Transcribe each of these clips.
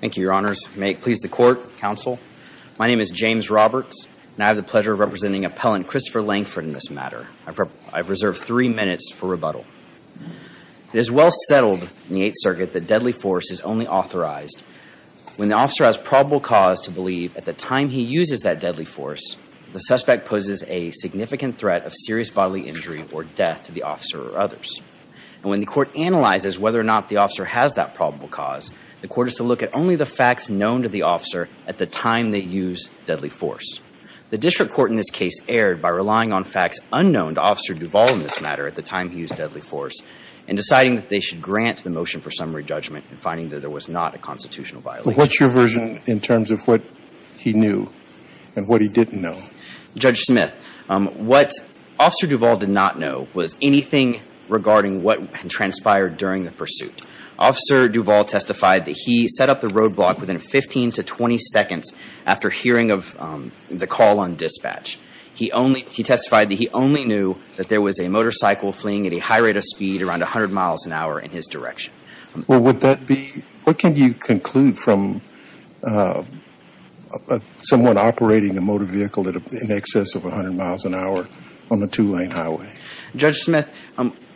Thank you, Your Honors. May it please the Court, Counsel. My name is James Roberts, and I have the pleasure of representing Appellant Christopher Lankford in this matter. I've reserved three minutes for rebuttal. It is well settled in the Eighth Circuit that deadly force is only authorized when the officer has probable cause to believe, at the time he uses that deadly force, the suspect poses a significant threat of serious bodily injury or death to the officer or others. And when the Court analyzes whether or not the officer has that probable cause, the Court is to look at only the facts known to the officer at the time they use deadly force. The district court in this case erred by relying on facts unknown to Officer Duvall in this matter at the time he used deadly force and deciding that they should grant the motion for summary judgment and finding that there was not a constitutional violation. But what's your version in terms of what he knew and what he didn't know? Judge Smith, what Officer Duvall did not know was anything regarding what transpired during the pursuit. Officer Duvall testified that he set up the roadblock within 15 to 20 seconds after hearing of the call on dispatch. He testified that he only knew that there was a motorcycle fleeing at a high rate of speed around 100 miles an hour in his direction. Well, what can you conclude from someone operating a motor vehicle in excess of 100 miles an hour on a two-lane highway? Judge Smith,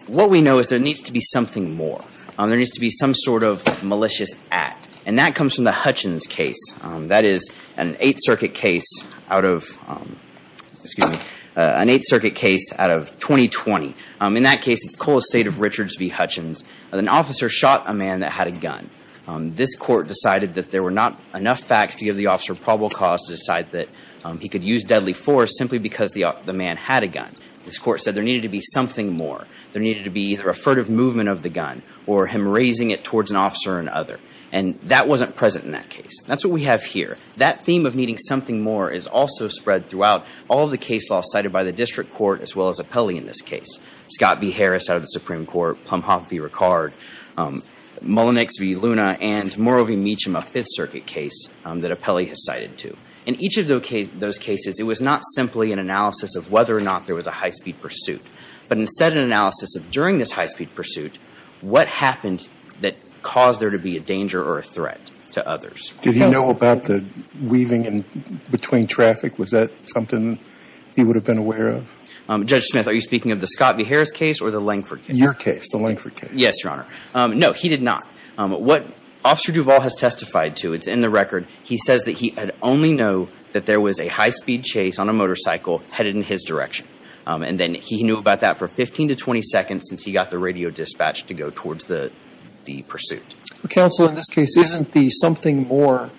what we know is there needs to be something more. There needs to be some sort of malicious act, and that comes from the Hutchins case. That is an Eighth Circuit case out of 2020. In that case, it's Cole Estate of Richards v. Hutchins. An officer shot a man that had a gun. This court decided that there were not enough facts to give the officer probable cause to decide that he could use deadly force simply because the man had a gun. This court said there needed to be something more. There needed to be either a furtive movement of the gun or him raising it towards an officer or another. And that wasn't present in that case. That's what we have here. That theme of needing something more is also spread throughout all of the case laws cited by the district court as well as Appelli in this case. Scott v. Harris out of the Supreme Court, Plumhoff v. Ricard, Mullenix v. Luna, and Morrow v. Meechum, a Fifth Circuit case that Appelli has cited too. In each of those cases, it was not simply an analysis of whether or not there was a high-speed pursuit, but instead an analysis of during this high-speed pursuit, what happened that caused there to be a danger or a threat to others? Did he know about the weaving in between traffic? Was that something he would have been aware of? Judge Smith, are you speaking of the Scott v. Harris case or the Langford case? Your case, the Langford case. Yes, Your Honor. No, he did not. What Officer Duvall has testified to, it's in the record, he says that he had only known that there was a high-speed chase on a motorcycle headed in his direction. And then he knew about that for 15 to 20 seconds since he got the radio dispatched to go towards the pursuit. Counsel, in this case, isn't the something more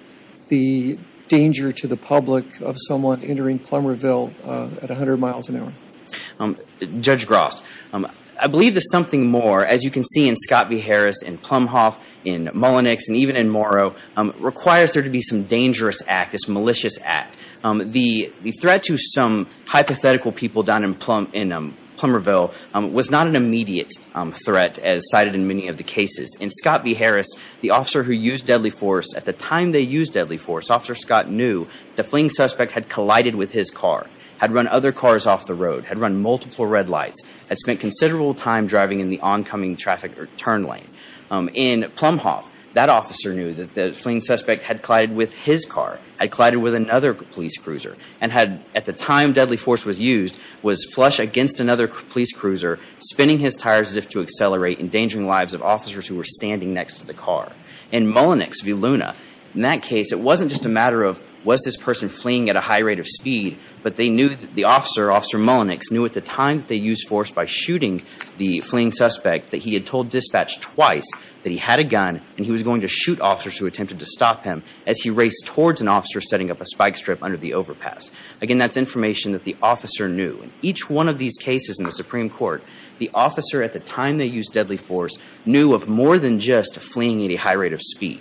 the danger to the public of someone entering Plummerville at 100 miles an hour? Judge Gross, I believe the something more, as you can see in Scott v. Harris, in Plumhoff, in Mullenix, and even in Morrow, requires there to be some dangerous act, this malicious act. The threat to some hypothetical people down in Plummerville was not an immediate threat, as cited in many of the cases. In Scott v. Harris, the officer who used deadly force, at the time they used deadly force, Officer Scott knew the fleeing suspect had collided with his car, had run other cars off the road, had run multiple red lights, had spent considerable time driving in the oncoming traffic turn lane. In Plumhoff, that officer knew that the fleeing suspect had collided with his car, had collided with another police cruiser, and had, at the time deadly force was used, was flush against another police cruiser, spinning his tires as if to accelerate, endangering the lives of officers who were standing next to the car. In Mullenix v. Luna, in that case, it wasn't just a matter of was this person fleeing at a high rate of speed, but they knew that the officer, Officer Mullenix, knew at the time that they used force by shooting the fleeing suspect, that he had told dispatch twice that he had a gun and he was going to shoot officers who attempted to stop him as he raced towards an officer setting up a spike strip under the overpass. Again, that's information that the officer knew. In each one of these cases in the Supreme Court, the officer at the time they used deadly force knew of more than just fleeing at a high rate of speed.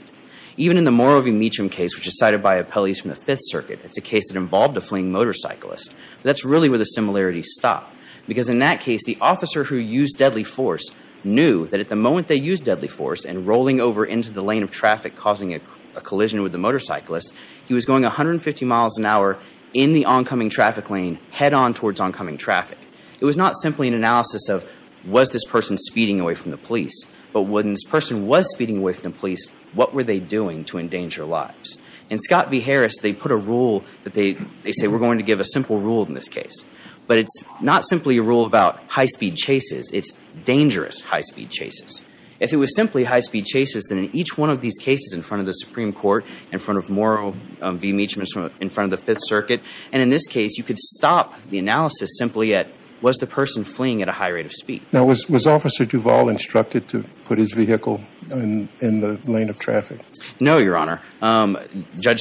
Even in the Moro v. Meacham case, which is cited by appellees from the Fifth Circuit, it's a case that involved a fleeing motorcyclist. That's really where the similarities stop, because in that case, the officer who used deadly force knew that at the moment they used deadly force and rolling over into the lane of traffic causing a collision with the motorcyclist, he was going 150 miles an hour in the oncoming traffic lane, head on towards oncoming traffic. It was not simply an analysis of was this person speeding away from the police, but when this person was speeding away from the police, what were they doing to endanger lives? In Scott v. Harris, they put a rule that they say we're going to give a simple rule in this case, but it's not simply a rule about high-speed chases. It's dangerous high-speed chases. If it was simply high-speed chases, then in each one of these cases in front of the Supreme Court, in front of Morrill v. Meacham, in front of the Fifth Circuit, and in this case, you could stop the analysis simply at was the person fleeing at a high rate of speed. Now, was Officer Duvall instructed to put his vehicle in the lane of traffic? No, Your Honor. Or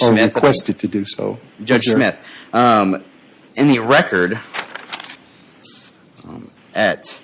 requested to do so. Judge Smith, in the record at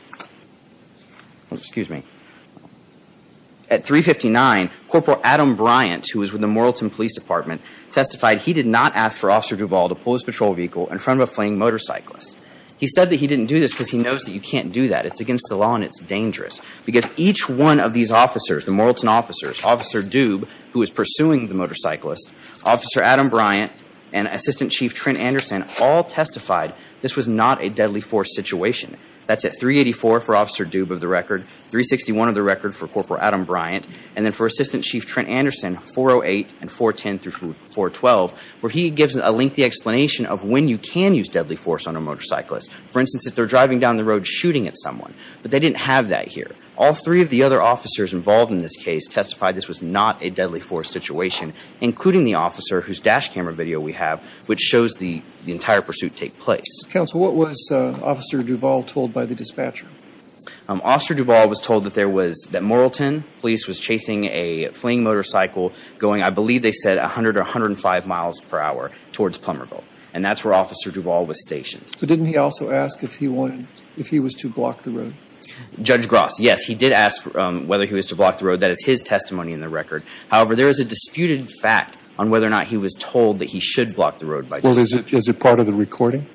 359, Corporal Adam Bryant, who was with the Morrillton Police Department, testified he did not ask for Officer Duvall to pull his patrol vehicle in front of a fleeing motorcyclist. He said that he didn't do this because he knows that you can't do that. It's against the law and it's dangerous. Because each one of these officers, the Morrillton officers, Officer Dube, who was pursuing the motorcyclist, Officer Adam Bryant, and Assistant Chief Trent Anderson, all testified this was not a deadly force situation. That's at 384 for Officer Dube of the record, 361 of the record for Corporal Adam Bryant, and then for Assistant Chief Trent Anderson, 408 and 410 through 412, where he gives a lengthy explanation of when you can use deadly force on a motorcyclist. For instance, if they're driving down the road shooting at someone. But they didn't have that here. All three of the other officers involved in this case testified this was not a deadly force situation, including the officer whose dash camera video we have, which shows the entire pursuit take place. Counsel, what was Officer Duvall told by the dispatcher? Officer Duvall was told that there was, that Morrillton police was chasing a fleeing motorcycle going, I believe they said, 100 or 105 miles per hour towards Plummerville. And that's where Officer Duvall was stationed. But didn't he also ask if he wanted, if he was to block the road? Judge Gross, yes, he did ask whether he was to block the road. That is his testimony in the record. However, there is a disputed fact on whether or not he was told that he should block the road. Well, is it part of the recording?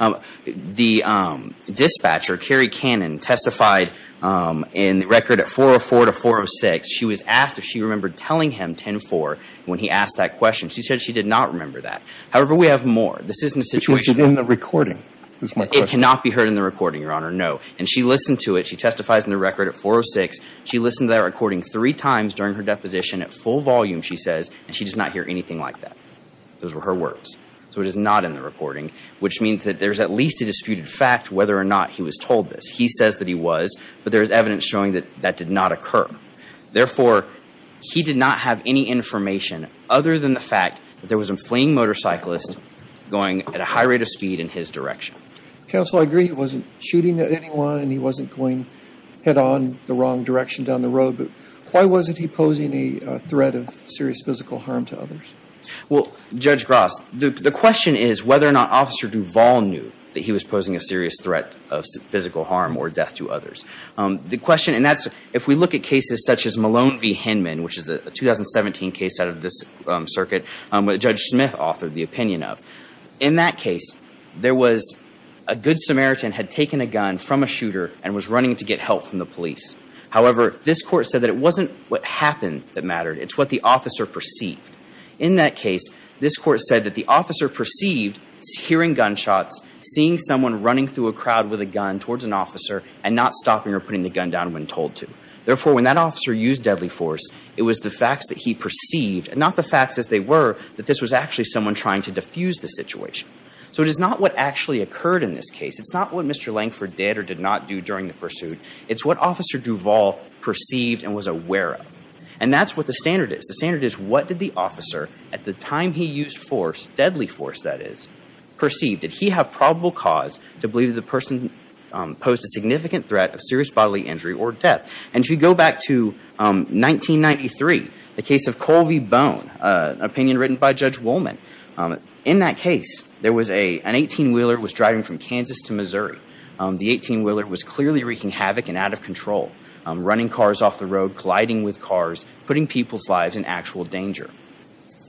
The dispatcher, Carrie Cannon, testified in the record at 404 to 406. She was asked if she remembered telling him 10-4 when he asked that question. She said she did not remember that. However, we have more. This is in the situation. Is it in the recording? It cannot be heard in the recording, Your Honor, no. And she listened to it. She testifies in the record at 406. She listened to that recording three times during her deposition at full volume, she says. And she does not hear anything like that. Those were her words. So it is not in the recording, which means that there is at least a disputed fact whether or not he was told this. He says that he was, but there is evidence showing that that did not occur. Therefore, he did not have any information other than the fact that there was a fleeing motorcyclist going at a high rate of speed in his direction. Counsel, I agree he wasn't shooting at anyone and he wasn't going head-on the wrong direction down the road, but why wasn't he posing a threat of serious physical harm to others? Well, Judge Gross, the question is whether or not Officer Duvall knew that he was posing a serious threat of physical harm or death to others. The question, and that's if we look at cases such as Malone v. Hinman, which is a 2017 case out of this circuit, which Judge Smith authored the opinion of. In that case, there was a good Samaritan had taken a gun from a shooter and was running to get help from the police. However, this court said that it wasn't what happened that mattered. It's what the officer perceived. In that case, this court said that the officer perceived hearing gunshots, seeing someone running through a crowd with a gun towards an officer, and not stopping or putting the gun down when told to. Therefore, when that officer used deadly force, it was the facts that he perceived, and not the facts as they were, that this was actually someone trying to diffuse the situation. So it is not what actually occurred in this case. It's not what Mr. Langford did or did not do during the pursuit. It's what Officer Duvall perceived and was aware of. And that's what the standard is. The standard is what did the officer, at the time he used force, deadly force, that is, perceive, did he have probable cause to believe the person posed a significant threat of serious bodily injury or death? And if you go back to 1993, the case of Colvie Bone, an opinion written by Judge Woolman, in that case, there was an 18-wheeler was driving from Kansas to Missouri. The 18-wheeler was clearly wreaking havoc and out of control, running cars off the road, colliding with cars, putting people's lives in actual danger.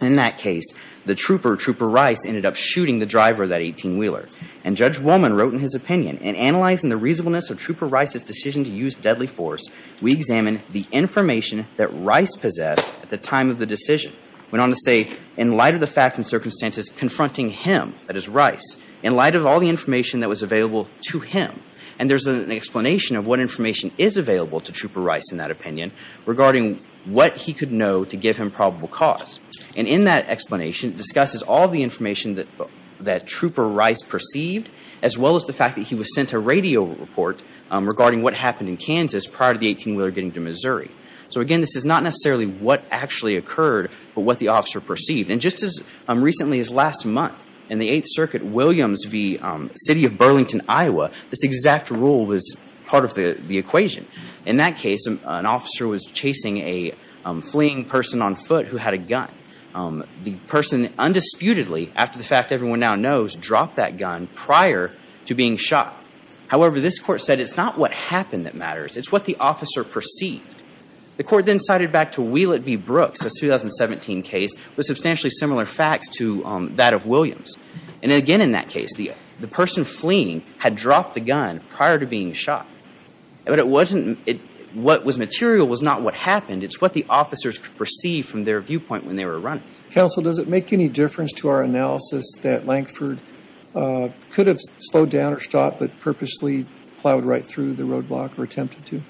In that case, the trooper, Trooper Rice, ended up shooting the driver of that 18-wheeler. And Judge Woolman wrote in his opinion, In analyzing the reasonableness of Trooper Rice's decision to use deadly force, we examine the information that Rice possessed at the time of the decision. Went on to say, In light of the facts and circumstances confronting him, that is, Rice, in light of all the information that was available to him, and there's an explanation of what information is available to Trooper Rice in that opinion regarding what he could know to give him probable cause. And in that explanation, it discusses all the information that Trooper Rice perceived, as well as the fact that he was sent a radio report regarding what happened in Kansas prior to the 18-wheeler getting to Missouri. So again, this is not necessarily what actually occurred, but what the officer perceived. And just as recently as last month, in the Eighth Circuit, Williams v. City of Burlington, Iowa, this exact rule was part of the equation. In that case, an officer was chasing a fleeing person on foot who had a gun. The person undisputedly, after the fact everyone now knows, dropped that gun prior to being shot. However, this Court said it's not what happened that matters. It's what the officer perceived. The Court then cited back to Wheelett v. Brooks, a 2017 case, with substantially similar facts to that of Williams. And again, in that case, the person fleeing had dropped the gun prior to being shot. But what was material was not what happened. It's what the officers perceived from their viewpoint when they were running. Counsel, does it make any difference to our analysis that Lankford could have slowed down or stopped but purposely plowed right through the roadblock or attempted to?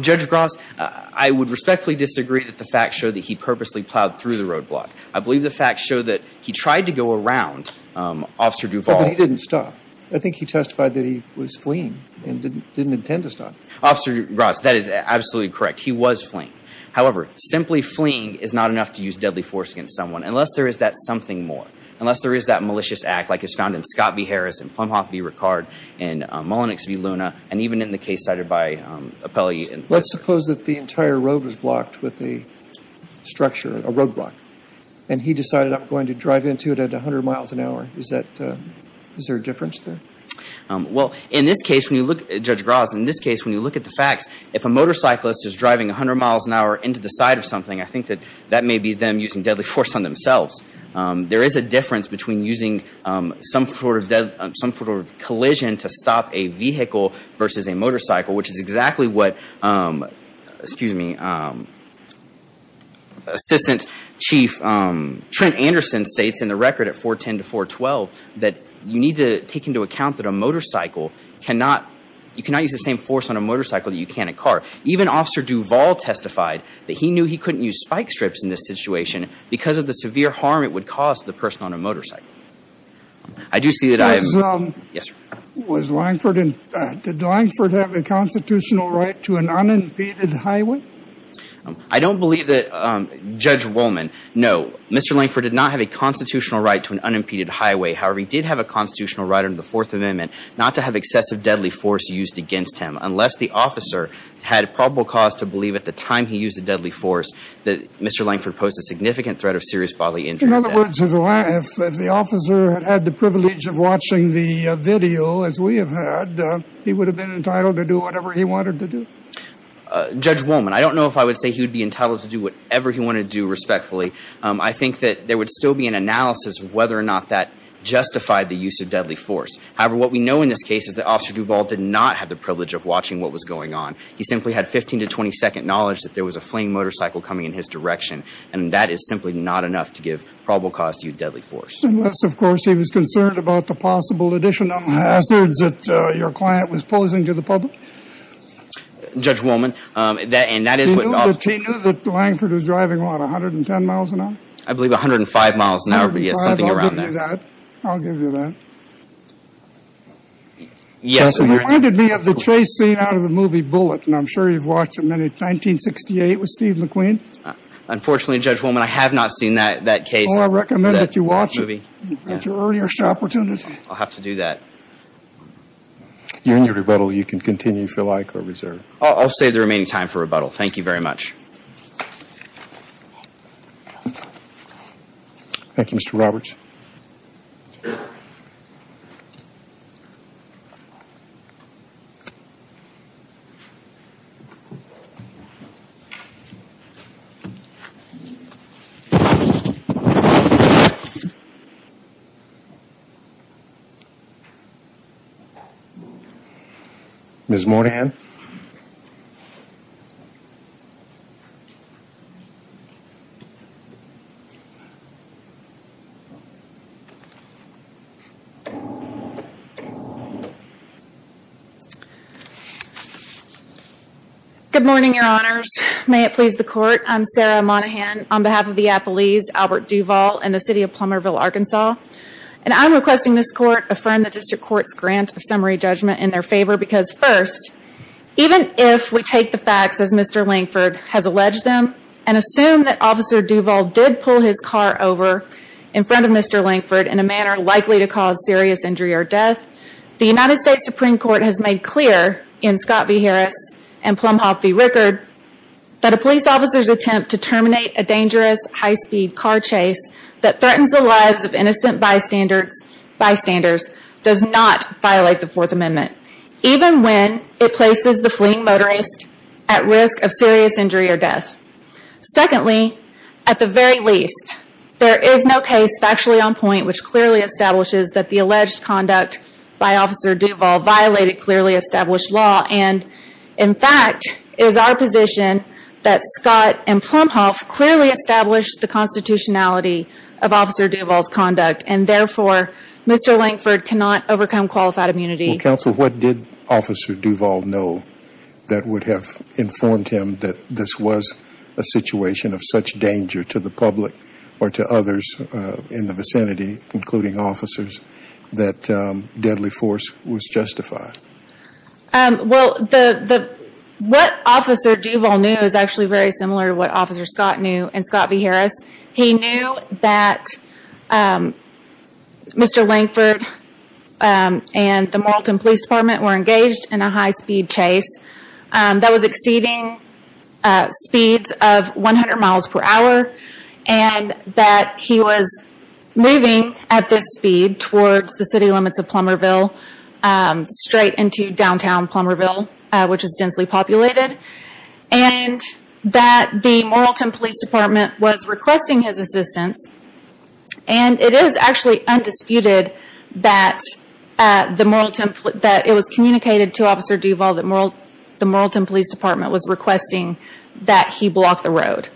Judge Gross, I would respectfully disagree that the facts show that he purposely plowed through the roadblock. I believe the facts show that he tried to go around Officer Duvall. But he didn't stop. I think he testified that he was fleeing and didn't intend to stop. Officer Gross, that is absolutely correct. He was fleeing. However, simply fleeing is not enough to use deadly force against someone unless there is that something more, unless there is that malicious act like is found in Scott v. Harris and Plumhoff v. Ricard and Mullenix v. Luna and even in the case cited by Appelli. Let's suppose that the entire road was blocked with a structure, a roadblock, and he decided I'm going to drive into it at 100 miles an hour. Is there a difference there? Well, in this case, when you look, Judge Gross, in this case, when you look at the facts, if a motorcyclist is driving 100 miles an hour into the side of something, I think that that may be them using deadly force on themselves. There is a difference between using some sort of collision to stop a vehicle versus a motorcycle, which is exactly what, excuse me, Assistant Chief Trent Anderson states in the record at 410 to 412 that you need to take into account that a motorcycle cannot, you cannot use the same force on a motorcycle that you can a car. Even Officer Duvall testified that he knew he couldn't use spike strips in this situation because of the severe harm it would cause to the person on a motorcycle. I do see that I have, yes, sir. Was Lankford, did Lankford have a constitutional right to an unimpeded highway? I don't believe that, Judge Wollman, no. Mr. Lankford did not have a constitutional right to an unimpeded highway. However, he did have a constitutional right under the Fourth Amendment not to have excessive deadly force used against him, unless the officer had probable cause to believe at the time he used the deadly force that Mr. Lankford posed a significant threat of serious bodily injury. In other words, if the officer had had the privilege of watching the video, as we have had, he would have been entitled to do whatever he wanted to do? Judge Wollman, I don't know if I would say he would be entitled to do whatever he wanted to do respectfully. I think that there would still be an analysis of whether or not that justified the use of deadly force. However, what we know in this case is that Officer Duvall did not have the privilege of watching what was going on. He simply had 15 to 20 second knowledge that there was a flaying motorcycle coming in his direction, and that is simply not enough to give probable cause to use deadly force. Unless, of course, he was concerned about the possible additional hazards that your client was posing to the public? Judge Wollman, and that is what— He knew that Lankford was driving, what, 110 miles an hour? I believe 105 miles an hour, yes, something around that. I'll give you that. I'll give you that. Yes, sir. It reminded me of the chase scene out of the movie Bullet, and I'm sure you've watched it many—1968 with Steve McQueen? Unfortunately, Judge Wollman, I have not seen that case. Well, I recommend that you watch it at your earliest opportunity. I'll have to do that. You're in your rebuttal. You can continue if you like or reserve. I'll save the remaining time for rebuttal. Thank you very much. Thank you, Mr. Roberts. Ms. Moynihan? Good morning, Your Honors. May it please the Court, I'm Sarah Moynihan on behalf of the Appleese, Albert Duvall, and the City of Plummerville, Arkansas. And I'm requesting this Court affirm the District Court's grant of summary judgment in their favor because, first, even if we take the facts as Mr. Lankford has alleged them and assume that Officer Duvall did pull his car over in front of Mr. Lankford in a manner likely to cause serious injury or death, the United States Supreme Court has made clear in Scott v. Harris and Plumhoff v. Rickard that a police officer's attempt to terminate a dangerous high-speed car chase that threatens the lives of innocent bystanders does not violate the Fourth Amendment, even when it places the fleeing motorist at risk of serious injury or death. Secondly, at the very least, there is no case factually on point which clearly establishes that the alleged conduct by Officer Duvall violated clearly established law and, in fact, it is our position that Scott and Plumhoff clearly established the constitutionality of Officer Duvall's conduct and, therefore, Mr. Lankford cannot overcome qualified immunity. Well, Counsel, what did Officer Duvall know that would have informed him that this was a situation of such danger to the public or to others in the vicinity, including officers, that deadly force was justified? Well, what Officer Duvall knew is actually very similar to what Officer Scott knew in Scott v. Harris. He knew that Mr. Lankford and the Moralton Police Department were engaged in a high-speed chase that was exceeding speeds of 100 miles per hour and that he was moving at this speed towards the city limits of Plummerville, straight into downtown Plummerville, which is densely populated, and that the Moralton Police Department was requesting his assistance. And it is actually undisputed that it was communicated to Officer Duvall that the Moralton Police Department was requesting that he block the road.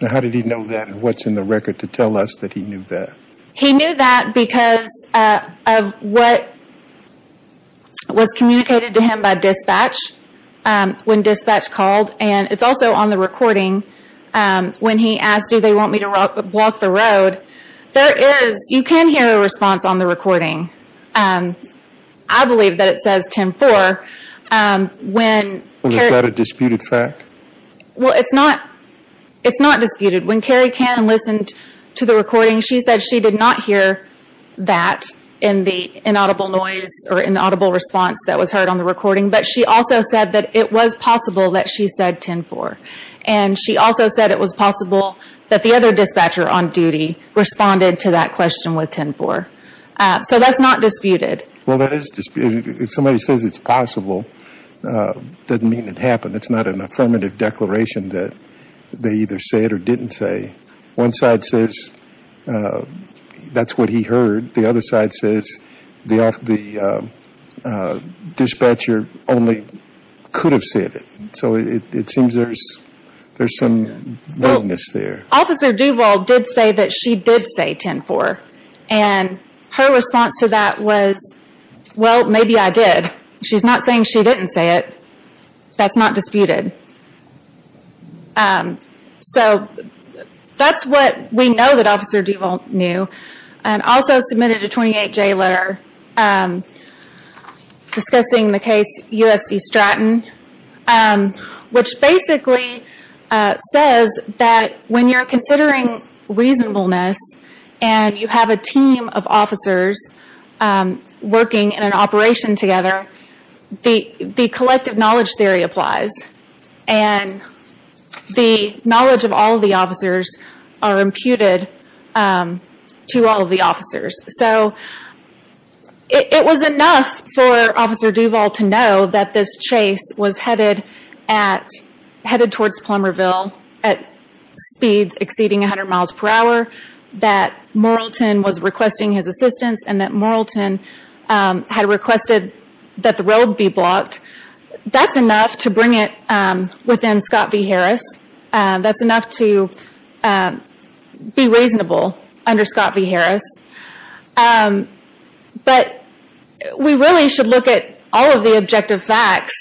Now, how did he know that and what's in the record to tell us that he knew that? He knew that because of what was communicated to him by dispatch when dispatch called. And it's also on the recording when he asked, do they want me to block the road? There is, you can hear a response on the recording. I believe that it says 10-4. Is that a disputed fact? Well, it's not disputed. When Carrie Cannon listened to the recording, she said she did not hear that in the inaudible noise or inaudible response that was heard on the recording. But she also said that it was possible that she said 10-4. And she also said it was possible that the other dispatcher on duty responded to that question with 10-4. So that's not disputed. Well, that is disputed. If somebody says it's possible, it doesn't mean it happened. It's not an affirmative declaration that they either said or didn't say. One side says that's what he heard. The other side says the dispatcher only could have said it. So it seems there's some weakness there. Officer Duvall did say that she did say 10-4. And her response to that was, well, maybe I did. She's not saying she didn't say it. That's not disputed. So that's what we know that Officer Duvall knew. And also submitted a 28-J letter discussing the case U.S. v. Stratton, which basically says that when you're considering reasonableness and you have a team of officers working in an operation together, the collective knowledge theory applies. And the knowledge of all of the officers are imputed to all of the officers. So it was enough for Officer Duvall to know that this chase was headed towards Plummerville at speeds exceeding 100 miles per hour, that Moralton was requesting his assistance, and that Moralton had requested that the road be blocked. That's enough to bring it within Scott v. Harris. That's enough to be reasonable under Scott v. Harris. But we really should look at all of the objective facts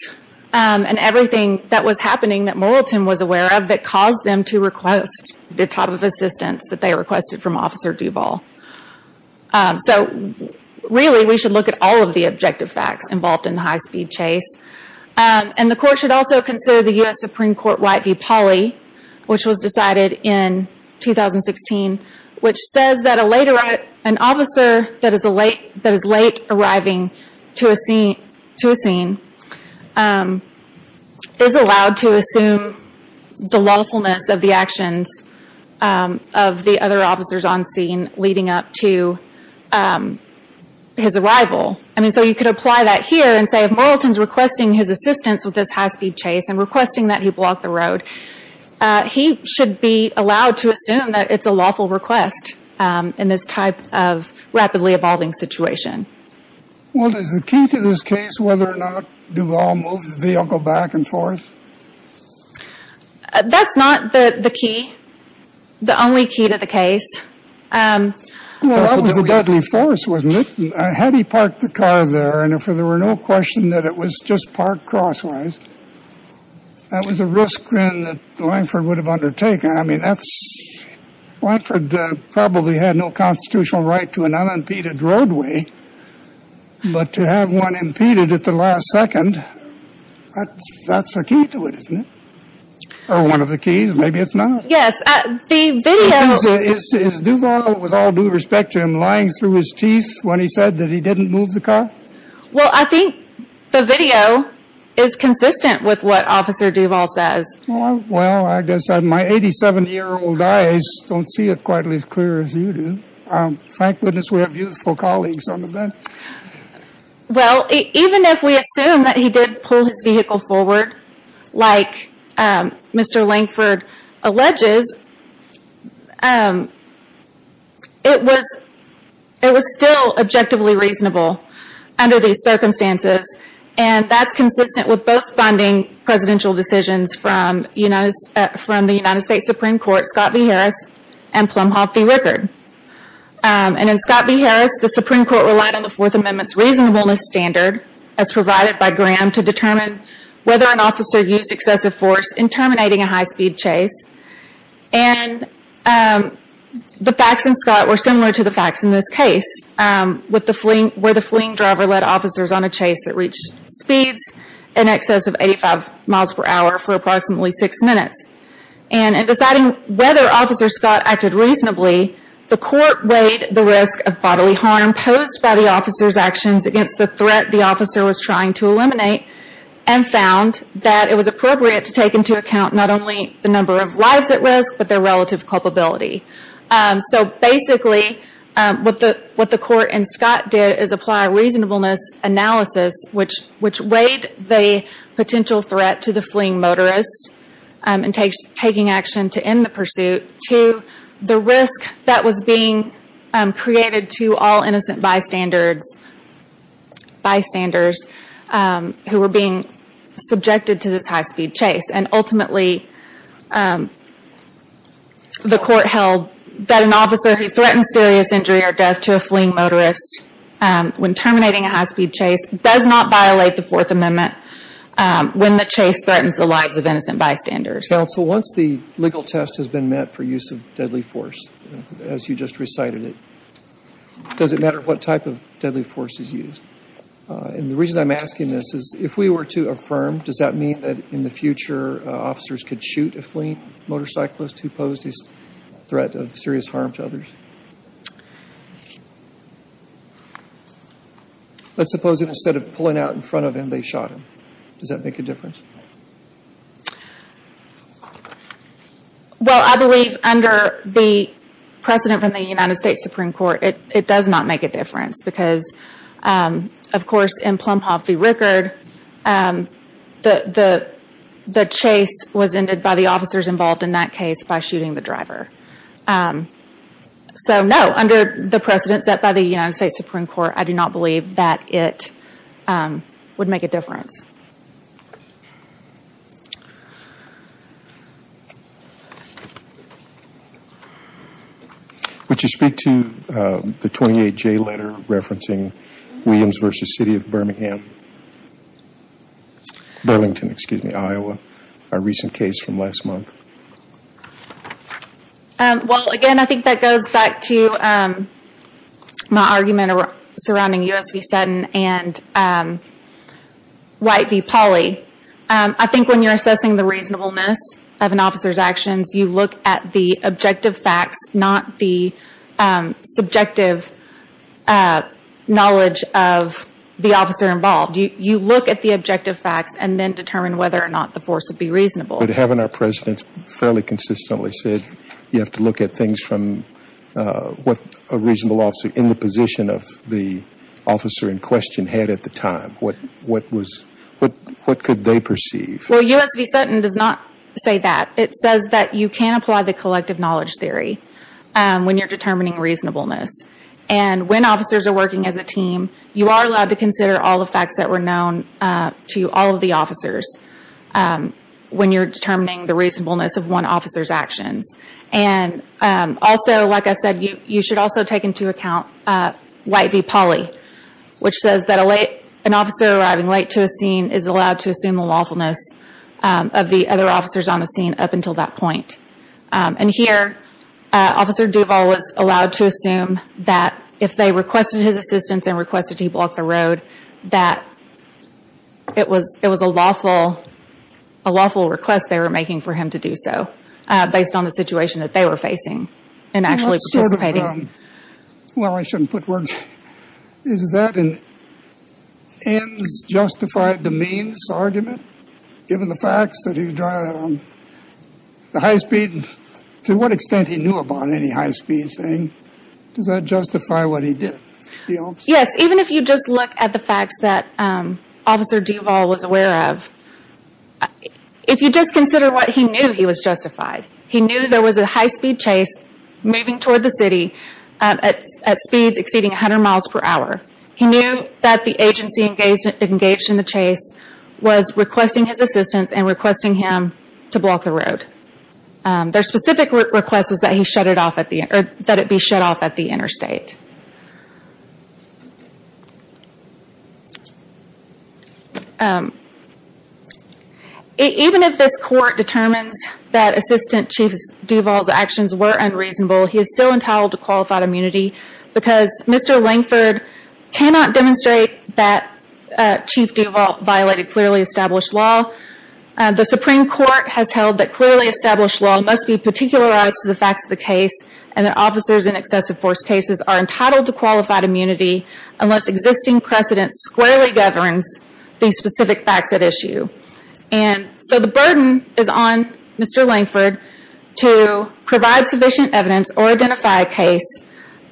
and everything that was happening that Moralton was aware of that caused them to request the type of assistance that they requested from Officer Duvall. So really, we should look at all of the objective facts involved in the high-speed chase. And the Court should also consider the U.S. Supreme Court White v. Pauley, which was decided in 2016, which says that an officer that is late arriving to a scene is allowed to assume the lawfulness of the actions of the other officers on scene leading up to his arrival. So you could apply that here and say if Moralton is requesting his assistance with this high-speed chase and requesting that he block the road, he should be allowed to assume that it's a lawful request in this type of rapidly evolving situation. Well, is the key to this case whether or not Duvall moved the vehicle back and forth? That's not the key, the only key to the case. Well, that was a deadly force, wasn't it? Had he parked the car there, and if there were no question that it was just parked crosswise, that was a risk then that Langford would have undertaken. I mean, Langford probably had no constitutional right to an unimpeded roadway, but to have one impeded at the last second, that's the key to it, isn't it? Or one of the keys, maybe it's not. Yes, the video… Is Duvall, with all due respect to him, lying through his teeth when he said that he didn't move the car? Well, I think the video is consistent with what Officer Duvall says. Well, I guess my 87-year-old eyes don't see it quite as clear as you do. Thank goodness we have youthful colleagues on the bench. Well, even if we assume that he did pull his vehicle forward, like Mr. Langford alleges, it was still objectively reasonable under these circumstances, and that's consistent with both funding presidential decisions from the United States Supreme Court, Scott v. Harris, and Plumhoff v. Rickard. And in Scott v. Harris, the Supreme Court relied on the Fourth Amendment's reasonableness standard, as provided by Graham, to determine whether an officer used excessive force in terminating a high-speed chase. And the facts in Scott were similar to the facts in this case, where the fleeing driver led officers on a chase that reached speeds in excess of 85 miles per hour for approximately six minutes. And in deciding whether Officer Scott acted reasonably, the court weighed the risk of bodily harm posed by the officer's actions against the threat the officer was trying to eliminate and found that it was appropriate to take into account not only the number of lives at risk, but their relative culpability. So basically, what the court and Scott did is apply reasonableness analysis, which weighed the potential threat to the fleeing motorist in taking action to end the pursuit, to the risk that was being created to all innocent bystanders who were being subjected to this high-speed chase. And ultimately, the court held that an officer who threatens serious injury or death to a fleeing motorist when terminating a high-speed chase does not violate the Fourth Amendment when the chase threatens the lives of innocent bystanders. Counsel, once the legal test has been met for use of deadly force, as you just recited it, does it matter what type of deadly force is used? And the reason I'm asking this is if we were to affirm, does that mean that in the future officers could shoot a fleeing motorcyclist who posed a threat of serious harm to others? Let's suppose that instead of pulling out in front of him, they shot him. Does that make a difference? Well, I believe under the precedent from the United States Supreme Court, it does not make a difference because, of course, in Plumhoff v. Rickard, the chase was ended by the officers involved in that case by shooting the driver. So no, under the precedent set by the United States Supreme Court, I do not believe that it would make a difference. Would you speak to the 28J letter referencing Williams v. City of Birmingham, Burlington, Iowa, a recent case from last month? Well, again, I think that goes back to my argument surrounding U.S. v. Sutton and White v. Pauley. I think when you're assessing the reasonableness of an officer's actions, you look at the objective facts, not the subjective knowledge of the officer involved. You look at the objective facts and then determine whether or not the force would be reasonable. But having our presidents fairly consistently said you have to look at things from what a reasonable officer in the position of the officer in question had at the time, what could they perceive? Well, U.S. v. Sutton does not say that. It says that you can apply the collective knowledge theory when you're determining reasonableness. And when officers are working as a team, you are allowed to consider all the facts that were known to all of the officers. When you're determining the reasonableness of one officer's actions. And also, like I said, you should also take into account White v. Pauley, which says that an officer arriving late to a scene is allowed to assume the lawfulness of the other officers on the scene up until that point. And here, Officer Duval was allowed to assume that if they requested his assistance and requested he block the road, that it was a lawful request they were making for him to do so, based on the situation that they were facing in actually participating. Well, I shouldn't put words. Is that an ends justified demeans argument, given the facts that he was driving at the high speed? To what extent he knew about any high speed thing? Does that justify what he did? Yes, even if you just look at the facts that Officer Duval was aware of. If you just consider what he knew, he was justified. He knew there was a high speed chase moving toward the city at speeds exceeding 100 miles per hour. He knew that the agency engaged in the chase was requesting his assistance and requesting him to block the road. Their specific request was that it be shut off at the interstate. Even if this court determines that Assistant Chief Duval's actions were unreasonable, he is still entitled to qualified immunity because Mr. Langford cannot demonstrate that Chief Duval violated clearly established law. The Supreme Court has held that clearly established law must be particularized to the facts of the case and that officers in excessive force cases are entitled to qualified immunity unless existing precedent squarely governs the specific facts at issue. The burden is on Mr. Langford to provide sufficient evidence or identify a case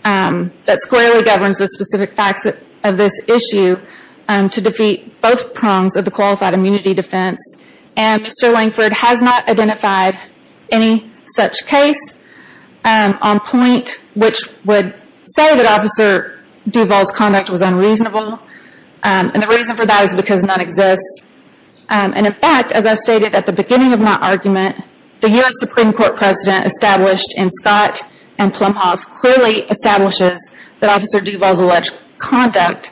that squarely governs the specific facts of this issue to defeat both prongs of the qualified immunity defense. Mr. Langford has not identified any such case on point which would say that Officer Duval's conduct was unreasonable. The reason for that is because none exists. In fact, as I stated at the beginning of my argument, the U.S. Supreme Court precedent established in Scott and Plumhoff clearly establishes that Officer Duval's alleged conduct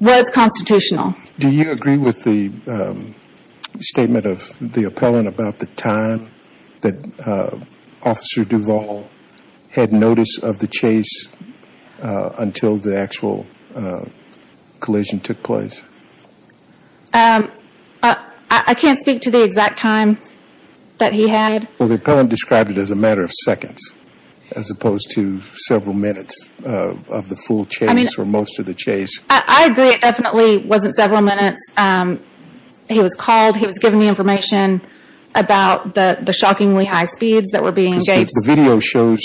was constitutional. Do you agree with the statement of the appellant about the time that Officer Duval had notice of the chase until the actual collision took place? I can't speak to the exact time that he had. Well, the appellant described it as a matter of seconds as opposed to several minutes of the full chase or most of the chase. I agree it definitely wasn't several minutes. He was called. He was given the information about the shockingly high speeds that were being engaged. The video shows,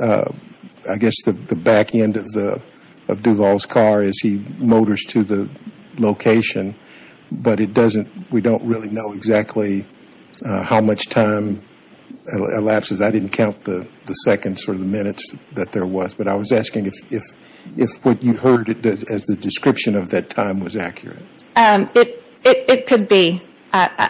I guess, the back end of Duval's car as he motors to the location, but we don't really know exactly how much time elapses. I didn't count the seconds or the minutes that there was, but I was asking if what you heard as the description of that time was accurate. It could be. I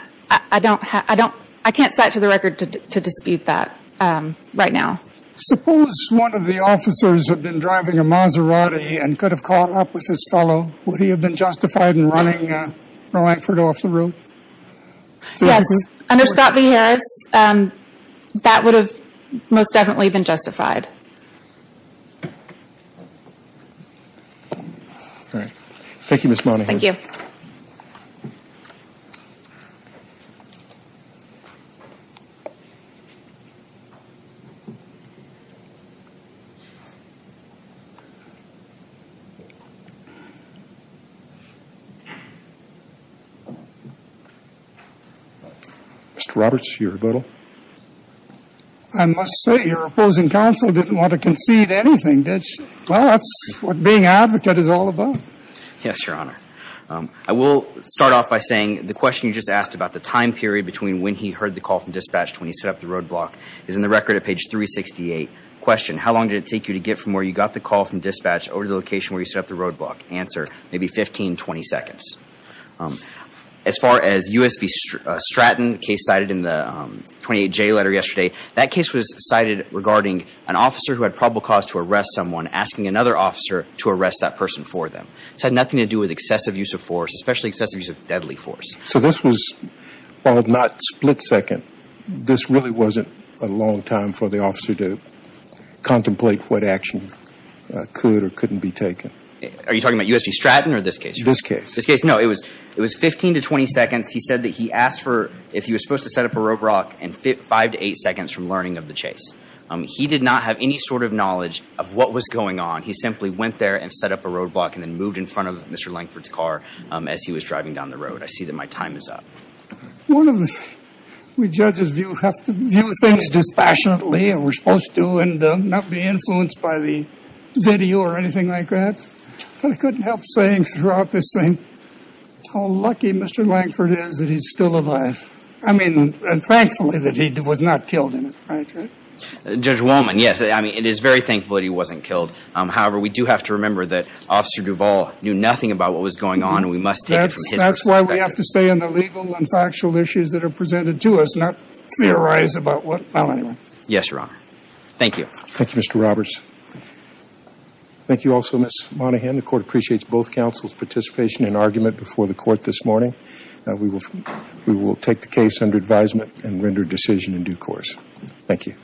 can't cite to the record to dispute that right now. Suppose one of the officers had been driving a Maserati and could have caught up with this fellow. Would he have been justified in running from Langford off the road? Yes, under Scott v. Harris, that would have most definitely been justified. All right. Thank you, Ms. Monahan. Thank you. Mr. Roberts, your rebuttal. I must say, your opposing counsel didn't want to concede anything, did she? Well, that's what being an advocate is all about. Yes, Your Honor. I will start off by saying the question you just asked about the time period between when he heard the call from dispatch to when he set up the roadblock is in the record at page 368. Question, how long did it take you to get from where you got the call from dispatch over to the location where you set up the roadblock? Answer, maybe 15, 20 seconds. As far as U.S. v. Stratton, the case cited in the 28J letter yesterday, that case was cited regarding an officer who had probable cause to arrest someone asking another officer to arrest that person for them. This had nothing to do with excessive use of force, especially excessive use of deadly force. So this was, well, if not split second, this really wasn't a long time for the officer to contemplate what action could or couldn't be taken. Are you talking about U.S. v. Stratton or this case? This case. This case, no. It was 15 to 20 seconds. He said that he asked for, if he was supposed to set up a roadblock, and 5 to 8 seconds from learning of the chase. He did not have any sort of knowledge of what was going on. He simply went there and set up a roadblock and then moved in front of Mr. Lankford's car as he was driving down the road. I see that my time is up. One of the, we judges have to view things dispassionately, and we're supposed to, and not be influenced by the video or anything like that. But I couldn't help saying throughout this thing how lucky Mr. Lankford is that he's still alive. I mean, and thankfully that he was not killed in it. Right? Judge Wallman, yes. I mean, it is very thankful that he wasn't killed. However, we do have to remember that Officer Duvall knew nothing about what was going on, and we must take it from his perspective. That's why we have to stay on the legal and factual issues that are presented to us, not theorize about what, well, anyway. Yes, Your Honor. Thank you. Thank you, Mr. Roberts. Thank you also, Ms. Monaghan. The court appreciates both counsel's participation and argument before the court this morning. We will take the case under advisement and render a decision in due course. Thank you.